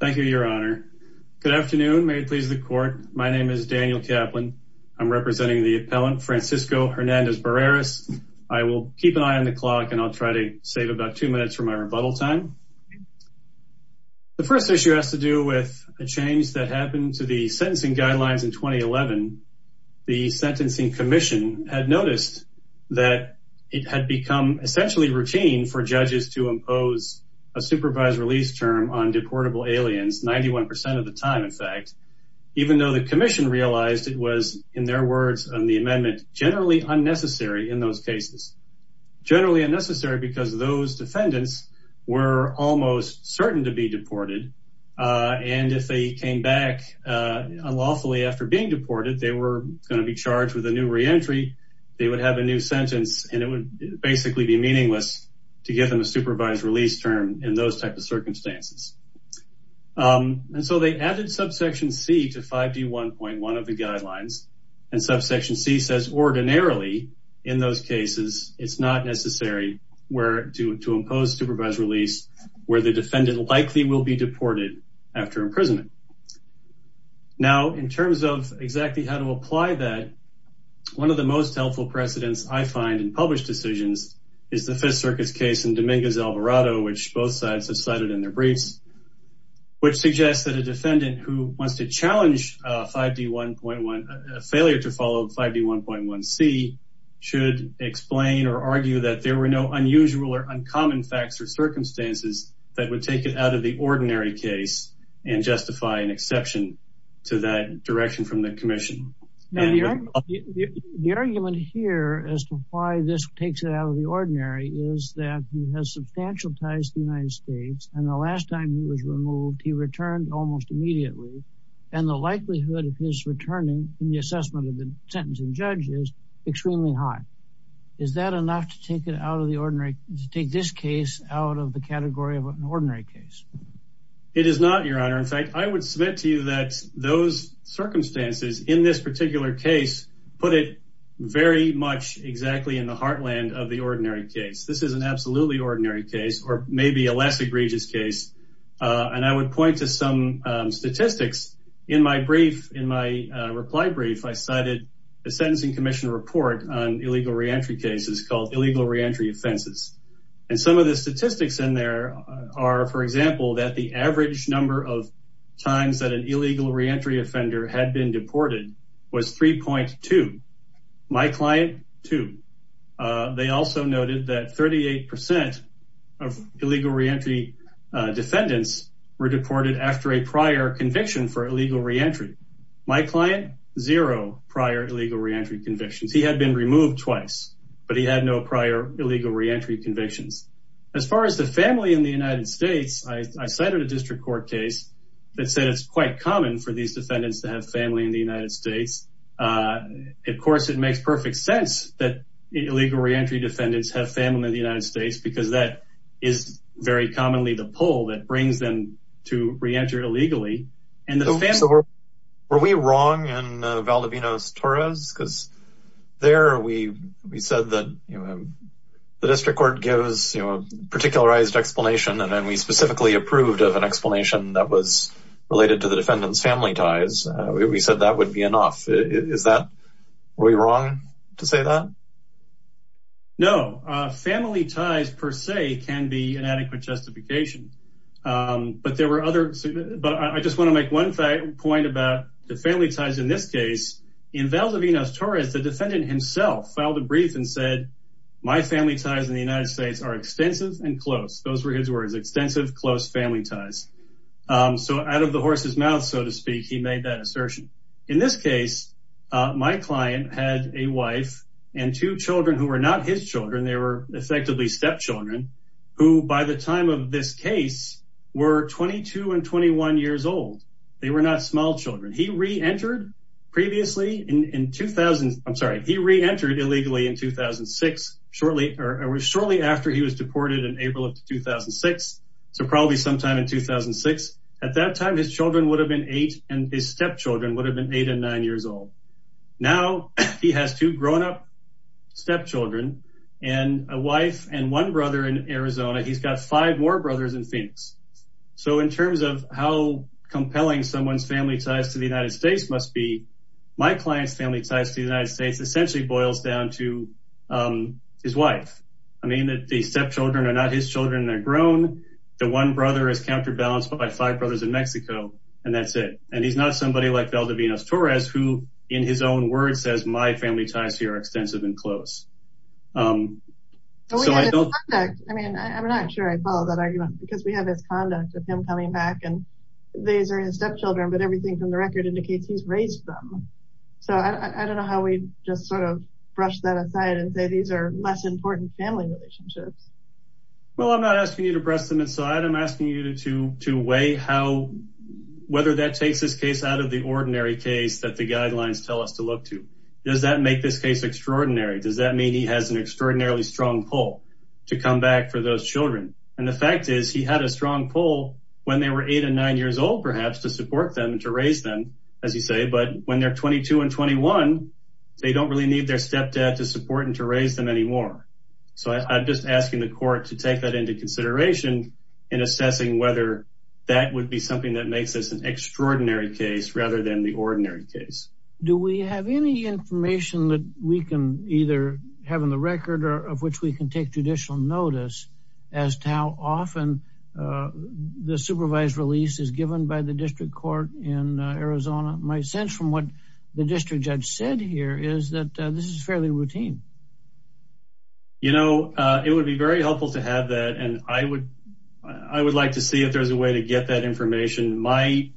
Thank you, Your Honor. Good afternoon. May it please the court. My name is Daniel Kaplan. I'm representing the appellant Francisco Hernandez-Barreras. I will keep an eye on the clock and I'll try to save about two minutes for my rebuttal time. The first issue has to do with a change that happened to the sentencing guidelines in 2011. The Sentencing Commission had noticed that it had become essentially routine for judges to impose a supervised release term on deportable aliens, 91% of the time, in fact, even though the Commission realized it was, in their words on the amendment, generally unnecessary in those cases. Generally unnecessary because those defendants were almost certain to be deported, and if they came back unlawfully after being deported, they were going to be charged with a new reentry, they would have a new sentence, and it would basically be meaningless to give them a supervised release term in those types of circumstances. And so they added subsection C to 5D1.1 of the guidelines, and subsection C says ordinarily, in those cases, it's not necessary to impose supervised release where the defendant likely will be deported after imprisonment. Now, in terms of exactly how to apply that, one of the most helpful precedents I find in published decisions is the Fifth Circuit's case in Dominguez-Alvarado, which both sides have cited in their briefs, which suggests that a defendant who wants to challenge failure to follow 5D1.1c should explain or argue that there were no unusual or uncommon facts or circumstances that would take it out of the ordinary case and justify an exception to that direction from the Commission. The argument here as to why this takes it out of the ordinary is that he has substantial ties to the United States, and the last time he was removed, he returned almost immediately, and the likelihood of his returning in the assessment of the sentencing judge is extremely high. Is that enough to take this case out of the category of an ordinary case? It is not, Your Honor. In fact, I would submit to you that those circumstances in this particular case put it very much exactly in the heartland of the ordinary case. This is an absolutely ordinary case, or maybe a less egregious case, and I would point to some statistics. In my reply brief, I cited a Sentencing Commission report on illegal reentry cases called Illegal Reentry Offenses, and some of the statistics in there are, for example, that the average number of times that an illegal reentry offender had been deported was 3.2. My client, two. They also noted that 38% of illegal reentry defendants were deported after a prior conviction for illegal reentry. My client, zero prior illegal reentry convictions. He had been removed twice, but he had no prior illegal reentry convictions. As far as the family in the United States, I cited a district court case that said it's quite common for these defendants to have family in the United States. Of course, it makes perfect sense that illegal reentry defendants have family in the United States, because that is very commonly the pull that brings them to re-enter illegally. So were we wrong in Valdivinos-Torres? Because there, we said that the district court gives a particularized explanation, and then we specifically approved of an explanation that was related to the defendant's family ties. We said that would be enough. Were we wrong to say that? No, family ties per se can be inadequate justification. But there were other, but I just want to make one point about the family ties in this case. In Valdivinos-Torres, the defendant himself filed a brief and said, my family ties in the United States are extensive and close. Those were his words, extensive, close family ties. So out of the horse's mouth, so to speak, he made that assertion. In this case, my client had a wife and two children who were not his children. They were effectively stepchildren, who by the time of this case were 22 and 21 years old. They were not small children. He re-entered illegally in 2006, shortly after he was deported in April of 2006. So probably sometime in 2006. At that time, his children would have been eight and his stepchildren would have been eight and nine years old. Now he has two grown up stepchildren and a wife and one brother in Arizona. He's got five more brothers in Phoenix. So in terms of how compelling someone's family ties to the United States must be, my client's family ties to the United States essentially boils down to his wife. I mean that the stepchildren are not his children and they're grown. The that's it. And he's not somebody like Valdivinos Torres, who in his own words says, my family ties here are extensive and close. So I don't, I mean, I'm not sure I follow that argument because we have this conduct of him coming back and these are his stepchildren, but everything from the record indicates he's raised them. So I don't know how we just sort of brush that aside and say, these are less important family relationships. Well, I'm not asking you to brush them aside. I'm asking you to weigh how, whether that takes this case out of the ordinary case that the guidelines tell us to look to. Does that make this case extraordinary? Does that mean he has an extraordinarily strong pull to come back for those children? And the fact is he had a strong pull when they were eight and nine years old, perhaps to support them and to raise them, as you say, but when they're 22 and 21, they don't really need their stepdad to support and to raise them anymore. So I'm just asking the court to take that into consideration in assessing whether that would be something that makes this an extraordinary case rather than the ordinary case. Do we have any information that we can either have in the record or of which we can take judicial notice as to how often the supervised release is given by the district court in Arizona? My sense from what the district judge said here is that this is fairly routine. You know, it would be very helpful to have that. And I would like to see if there's a way to get that information. My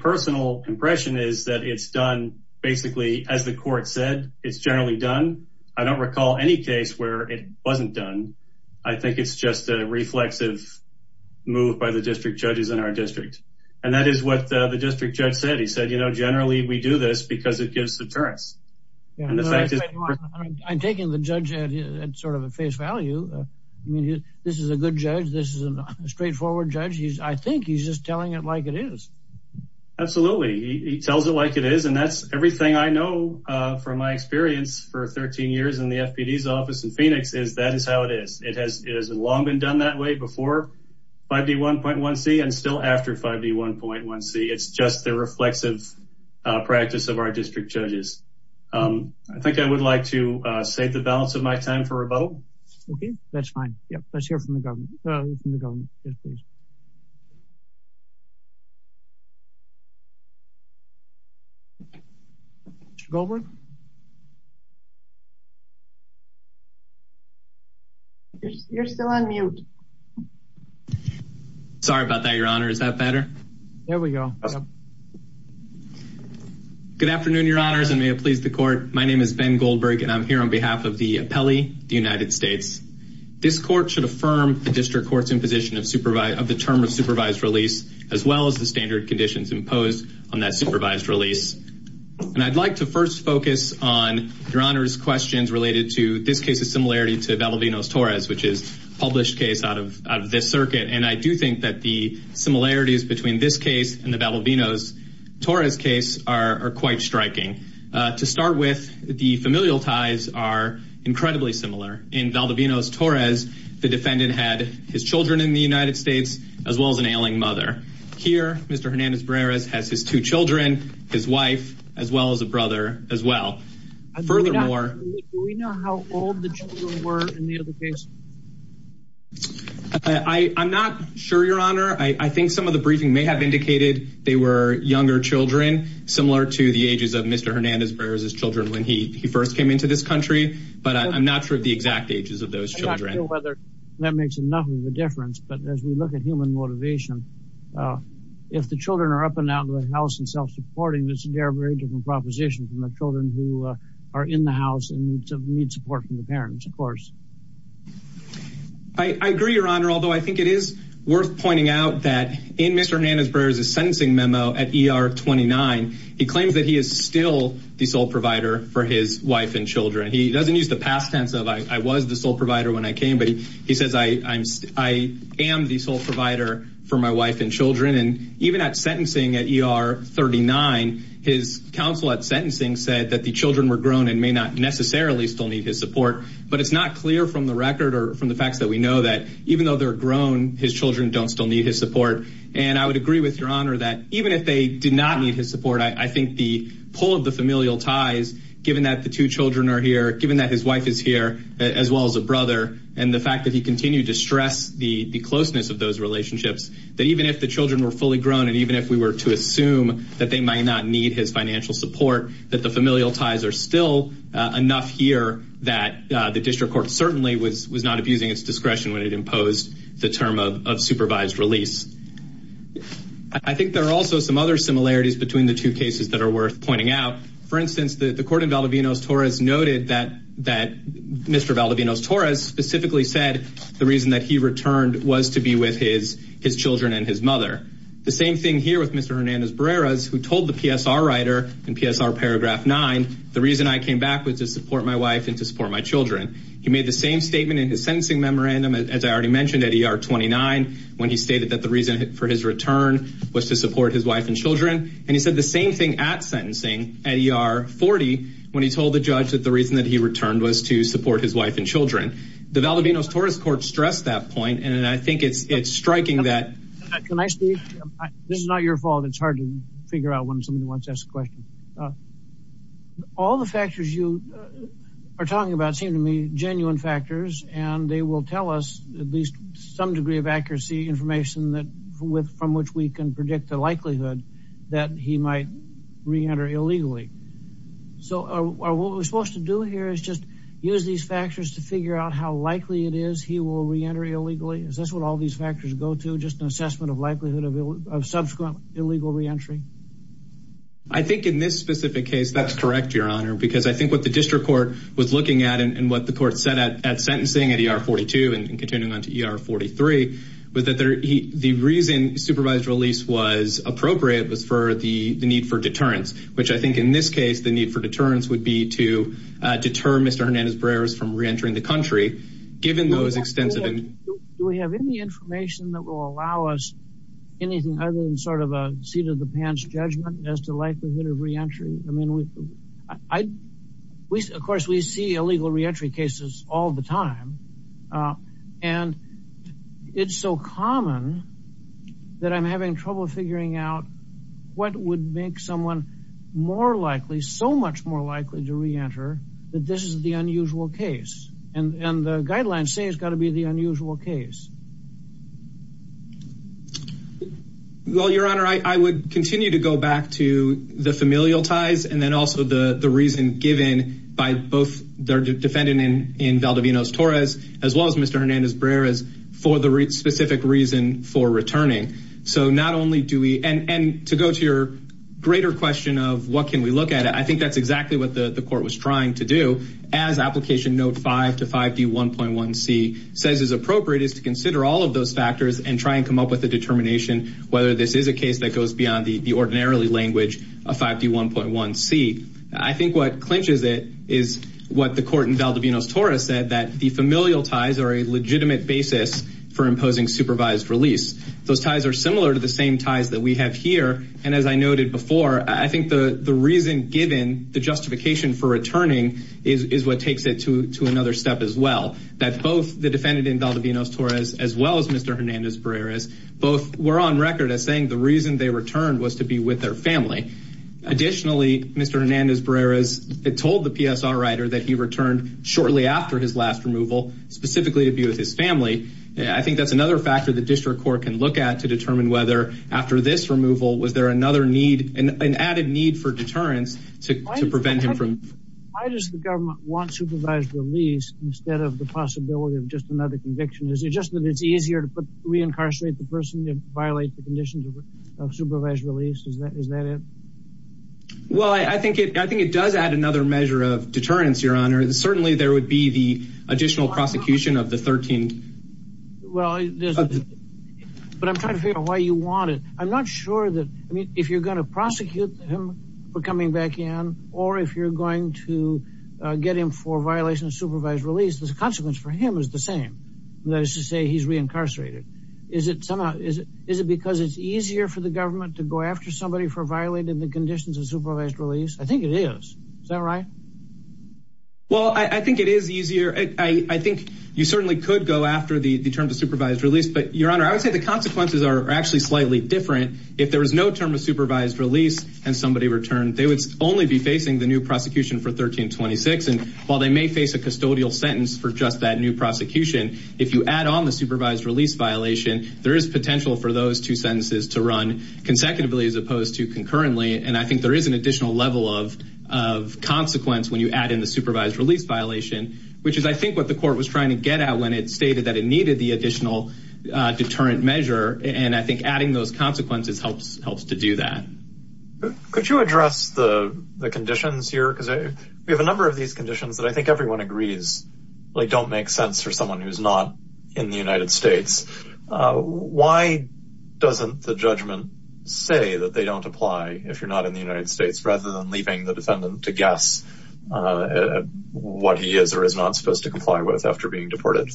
personal impression is that it's done basically as the court said, it's generally done. I don't recall any case where it wasn't done. I think it's just a reflexive move by the district judges in our district. And that is what the district judge said. He said, you know, generally we do this because it gives deterrence. I'm taking the judge at sort of a face value. I mean, this is a good judge. This is a straightforward judge. I think he's just telling it like it is. Absolutely. He tells it like it is. And that's everything I know from my experience for 13 years in the FPD's office in Phoenix is that is how it is. It has long been done that way before 5D1.1c and still after 5D1.1c. It's just the reflexive practice of our district judges. I think I would like to save the balance of my time for a vote. Okay, that's fine. Yeah, let's hear from the government. Mr. Goldberg? You're still on mute. Sorry about that, Your Honor. Is that better? There we go. Good afternoon, Your Honors, and may it please the court. My name is Ben Goldberg, and I'm here on behalf of the appellee, the United States. This court should affirm the district court's imposition of the term of supervised release, as well as the standard conditions imposed on that supervised release. And I'd like to first focus on Your Honor's questions related to this case's similarity to Belavino's-Torres, which is a published case out of this circuit. And I do think that the similarities between this case and the Belavino's-Torres case are quite striking. To start with, the familial ties are incredibly similar. In Belavino's-Torres, the defendant had his children in the United States, as well as an ailing mother. Here, Mr. Hernandez-Barreras has his two children, his wife, as well as a brother, as well. Furthermore- Do we know how old the children were in the other case? I'm not sure, Your Honor. I think some of the briefing may have indicated they were younger children, similar to the ages of Mr. Hernandez-Barreras' children when he first came into this country. But I'm not sure of the exact ages of those children. I'm not sure whether that makes enough of a difference. But as we look at human motivation, if the children are up and house and self-supporting, this is a very different proposition from the children who are in the house and need support from the parents, of course. I agree, Your Honor, although I think it is worth pointing out that in Mr. Hernandez-Barreras' sentencing memo at ER 29, he claims that he is still the sole provider for his wife and children. He doesn't use the past tense of, I was the sole provider when I came, but he says, I am the sole provider for my wife and children. And even at sentencing at ER 39, his counsel at sentencing said that the children were grown and may not necessarily still need his support. But it's not clear from the record or from the facts that we know that even though they're grown, his children don't still need his support. And I would agree with Your Honor that even if they did not need his support, I think the pull of the familial ties, given that the two children are here, given that his wife is here, as well as a brother, and the fact that he continued to stress the closeness of those relationships, that even if the children were fully grown and even if we were to assume that they might not need his financial support, that the familial ties are still enough here that the district court certainly was not abusing its discretion when it imposed the term of supervised release. I think there are also some other similarities between the two cases that are worth pointing out. For instance, the court in Valdivinos-Torres noted that Mr. was to be with his children and his mother. The same thing here with Mr. Hernandez-Barreras, who told the PSR writer in PSR paragraph 9, the reason I came back was to support my wife and to support my children. He made the same statement in his sentencing memorandum, as I already mentioned, at ER 29, when he stated that the reason for his return was to support his wife and children. And he said the same thing at sentencing at ER 40, when he told the judge that the reason that was to support his wife and children. The Valdivinos-Torres court stressed that point, and I think it's striking that... Can I speak? This is not your fault. It's hard to figure out when someone wants to ask a question. All the factors you are talking about seem to be genuine factors, and they will tell us at least some degree of accuracy information from which we can predict the likelihood that he might reenter illegally. So what we're supposed to do here is use these factors to figure out how likely it is he will reenter illegally? Is this what all these factors go to? Just an assessment of likelihood of subsequent illegal reentry? I think in this specific case, that's correct, Your Honor, because I think what the district court was looking at and what the court said at sentencing at ER 42 and continuing on to ER 43, was that the reason supervised release was appropriate was for the need for deterrence, which I think in this case, the need for deterrence would be to deter Mr. Hernandez-Barreras from reentering the country, given those extensive... Do we have any information that will allow us anything other than sort of a seat-of-the-pants judgment as to likelihood of reentry? Of course, we see illegal reentry cases all the time, and it's so common that I'm having trouble figuring out what would make someone more likely, so much more likely to reenter, that this is the unusual case. And the guidelines say it's got to be the unusual case. Well, Your Honor, I would continue to go back to the familial ties and then also the reason given by both the defendant in Valdivinos-Torres, as well as Mr. Hernandez-Barreras, for the specific reason for returning. So not only do we... And to go to your greater question of what can we look at, I think that's exactly what the court was trying to do. As Application Note 5 to 5D1.1c says is appropriate, is to consider all of those factors and try and come up with a determination whether this is a case that goes beyond the ordinarily language of 5D1.1c. I think what clinches it is what the court in Valdivinos-Torres said, that the familial ties are a legitimate basis for imposing supervised release. Those ties are similar to the same ties that we have here, and as I noted before, I think the reason given, the justification for returning, is what takes it to another step as well. That both the defendant in Valdivinos-Torres, as well as Mr. Hernandez-Barreras, both were on record as saying the reason they returned was to be with their family. Additionally, Mr. Hernandez-Barreras told the PSR writer that he returned shortly after his last removal, specifically to be with his family. I think that's another factor the district court can look at to determine whether, after this removal, was there another need, an added need for deterrence to prevent him from... Why does the government want supervised release instead of the possibility of just another conviction? Is it just that it's easier to reincarcerate the person than violate the conditions of supervised release? Is that it? Well, I think it does add another measure of deterrence, your honor. Certainly, there would be the additional prosecution of the 13... Well, but I'm trying to figure out why you want it. I'm not sure that, I mean, if you're going to prosecute him for coming back in, or if you're going to get him for violation of supervised release, the consequence for him is the same. That is to say, he's reincarcerated. Is it somehow, is it because it's easier for the government to go after somebody for violating the conditions of supervised release? I think it is. Is that right? Well, I think it is easier. I think you certainly could go after the terms of supervised release, but your honor, I would say the consequences are actually slightly different. If there was no term of supervised release and somebody returned, they would only be facing the new prosecution for 1326. And while they may face a custodial sentence for just that new prosecution, if you add on the supervised release violation, there is potential for those two sentences to run consecutively as opposed to concurrently. And I think there is an additional level of consequence when you add in the supervised release violation, which is, I think, what the court was trying to get at when it stated that it needed the additional deterrent measure. And I think adding those consequences helps to do that. Could you address the conditions here? Because we have a number of these conditions that I think doesn't the judgment say that they don't apply if you're not in the United States, rather than leaving the defendant to guess what he is or is not supposed to comply with after being deported?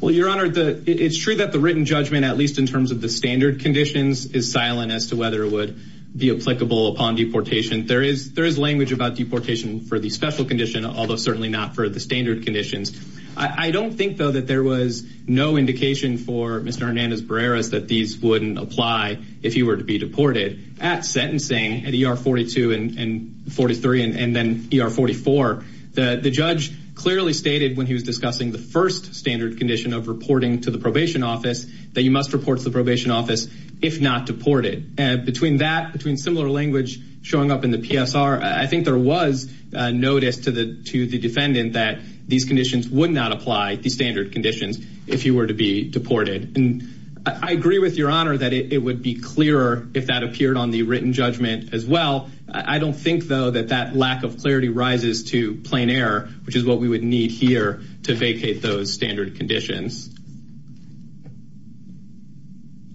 Well, your honor, it's true that the written judgment, at least in terms of the standard conditions, is silent as to whether it would be applicable upon deportation. There is language about deportation for the special condition, although certainly not for the standard conditions. I don't think, though, that there was no indication for Mr. Hernandez Barreras that these wouldn't apply if he were to be deported. At sentencing, at ER 42 and 43 and then ER 44, the judge clearly stated when he was discussing the first standard condition of reporting to the probation office that you must report to the probation office if not deported. Between that, between similar language showing up in the PSR, I think there was notice to the defendant that these conditions would not apply, the standard conditions, if he were to be deported. I agree with your honor that it would be clearer if that appeared on the written judgment as well. I don't think, though, that that lack of clarity rises to plain error, which is what we would need here to vacate those standard conditions.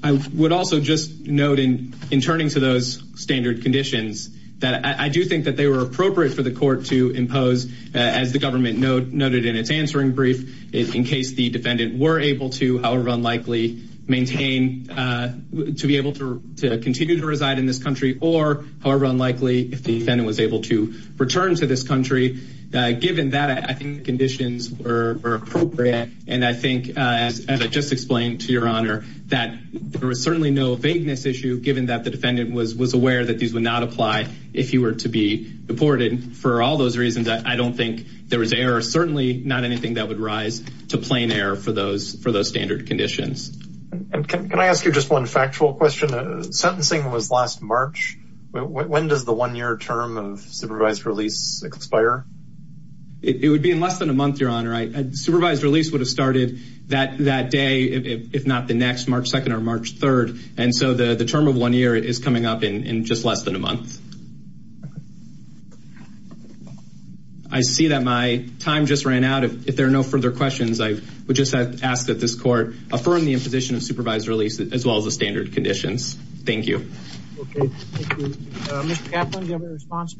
I would also just note in turning to those standard conditions that I do think that they were appropriate for the court to impose, as the government noted in its answering brief, in case the defendant were able to, however unlikely, maintain, to be able to continue to reside in this country or, however unlikely, if the defendant was able to return to this country. Given that, I think the conditions were appropriate and I think, as I just explained to your honor, that there was certainly no vagueness issue, given that the defendant was aware that these would not apply if he were to be deported. For all those reasons, I don't think there was error, certainly not anything that would rise to plain error for those standard conditions. Can I ask you just one factual question? Sentencing was last March. When does the one-year term of supervised release expire? It would be in less than a month, your honor. Supervised release would have started that day, if not the next, March 2nd or March 3rd, and so the term of one year is coming up in just a month. I see that my time just ran out. If there are no further questions, I would just ask that this court affirm the imposition of supervised release, as well as the standard conditions. Thank you. Okay, thank you. Mr. Kaplan, do you have a response?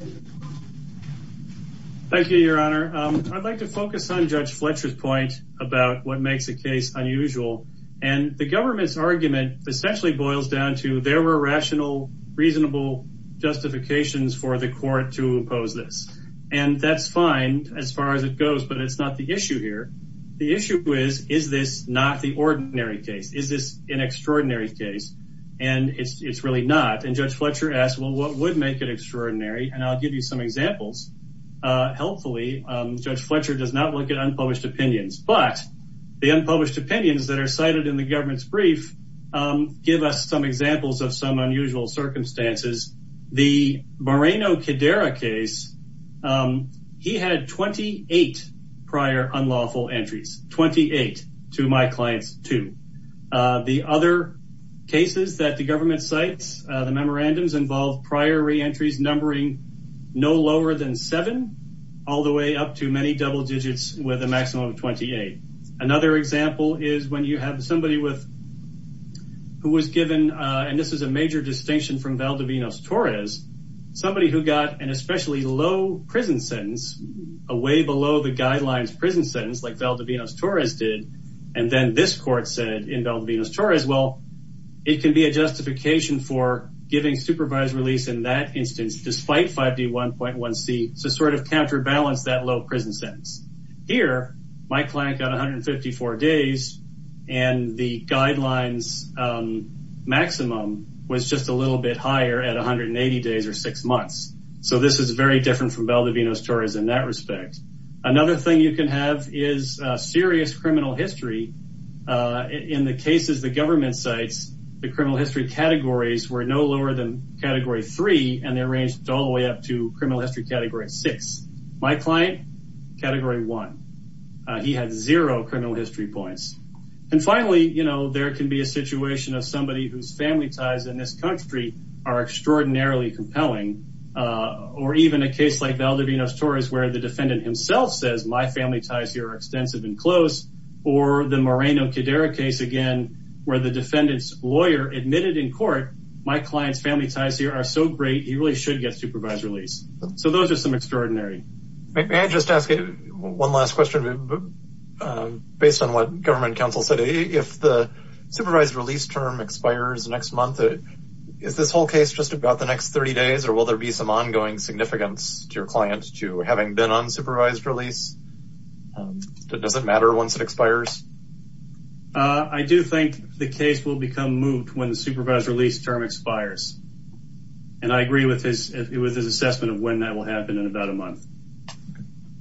Thank you, your honor. I'd like to focus on Judge Fletcher's point about what makes a case unusual, and the government's argument essentially boils down to there were rational, reasonable justifications for the court to impose this. And that's fine as far as it goes, but it's not the issue here. The issue is, is this not the ordinary case? Is this an extraordinary case? And it's really not. And Judge Fletcher asked, well, what would make it extraordinary? And I'll give you some examples. Helpfully, Judge Fletcher does not look at unpublished opinions, but the unpublished opinions that are cited in the government's brief give us some examples of unusual circumstances. The Moreno-Cadera case, he had 28 prior unlawful entries, 28 to my clients two. The other cases that the government cites, the memorandums involve prior re-entries numbering no lower than seven, all the way up to many double digits with a maximum of 28. Another example is have somebody who was given, and this is a major distinction from Valdivinos-Torres, somebody who got an especially low prison sentence, a way below the guidelines prison sentence like Valdivinos-Torres did, and then this court said in Valdivinos-Torres, well, it can be a justification for giving supervised release in that instance despite 5D1.1c to sort balance that low prison sentence. Here, my client got 154 days, and the guidelines maximum was just a little bit higher at 180 days or six months. So this is very different from Valdivinos-Torres in that respect. Another thing you can have is serious criminal history. In the cases the government cites, the criminal history categories were no lower than category three, and they ranged all the way up to criminal history category six. My client, category one, he had zero criminal history points. And finally, there can be a situation of somebody whose family ties in this country are extraordinarily compelling, or even a case like Valdivinos-Torres where the defendant himself says my family ties here are extensive and close, or the Moreno-Cadera case again where the defendant's lawyer admitted in court my client's family ties here are so great he really should get supervised release. So those are some extraordinary. May I just ask one last question based on what government counsel said. If the supervised release term expires next month, is this whole case just about the next 30 days, or will there be some ongoing significance to your client to having been on supervised release? Does it matter once it expires? I do think the case will become moot when the supervised release term expires. And I agree with his assessment of when that will happen in about a month.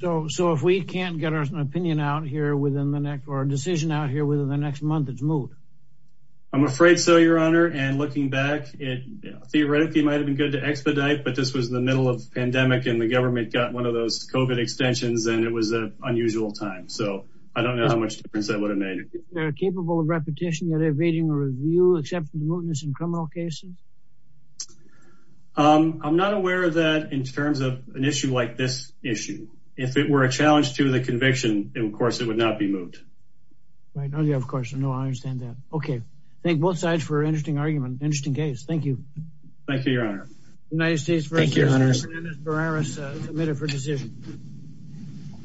So if we can't get our opinion out here within the next, or a decision out here within the next month, it's moot? I'm afraid so, your honor. And looking back, it theoretically might have been good to expedite, but this was the middle of pandemic and the government got one of those COVID extensions, and it was an unusual time. So I don't know how much difference that would have been. Are they capable of repetition, yet evading a review, except for mootness in criminal cases? I'm not aware of that in terms of an issue like this issue. If it were a challenge to the conviction, then of course it would not be moot. Right, of course, I understand that. Okay, thank both sides for an interesting argument, interesting case. Thank you. Thank you, your honor. United States v. Hernandez-Barreras, submitted for decision.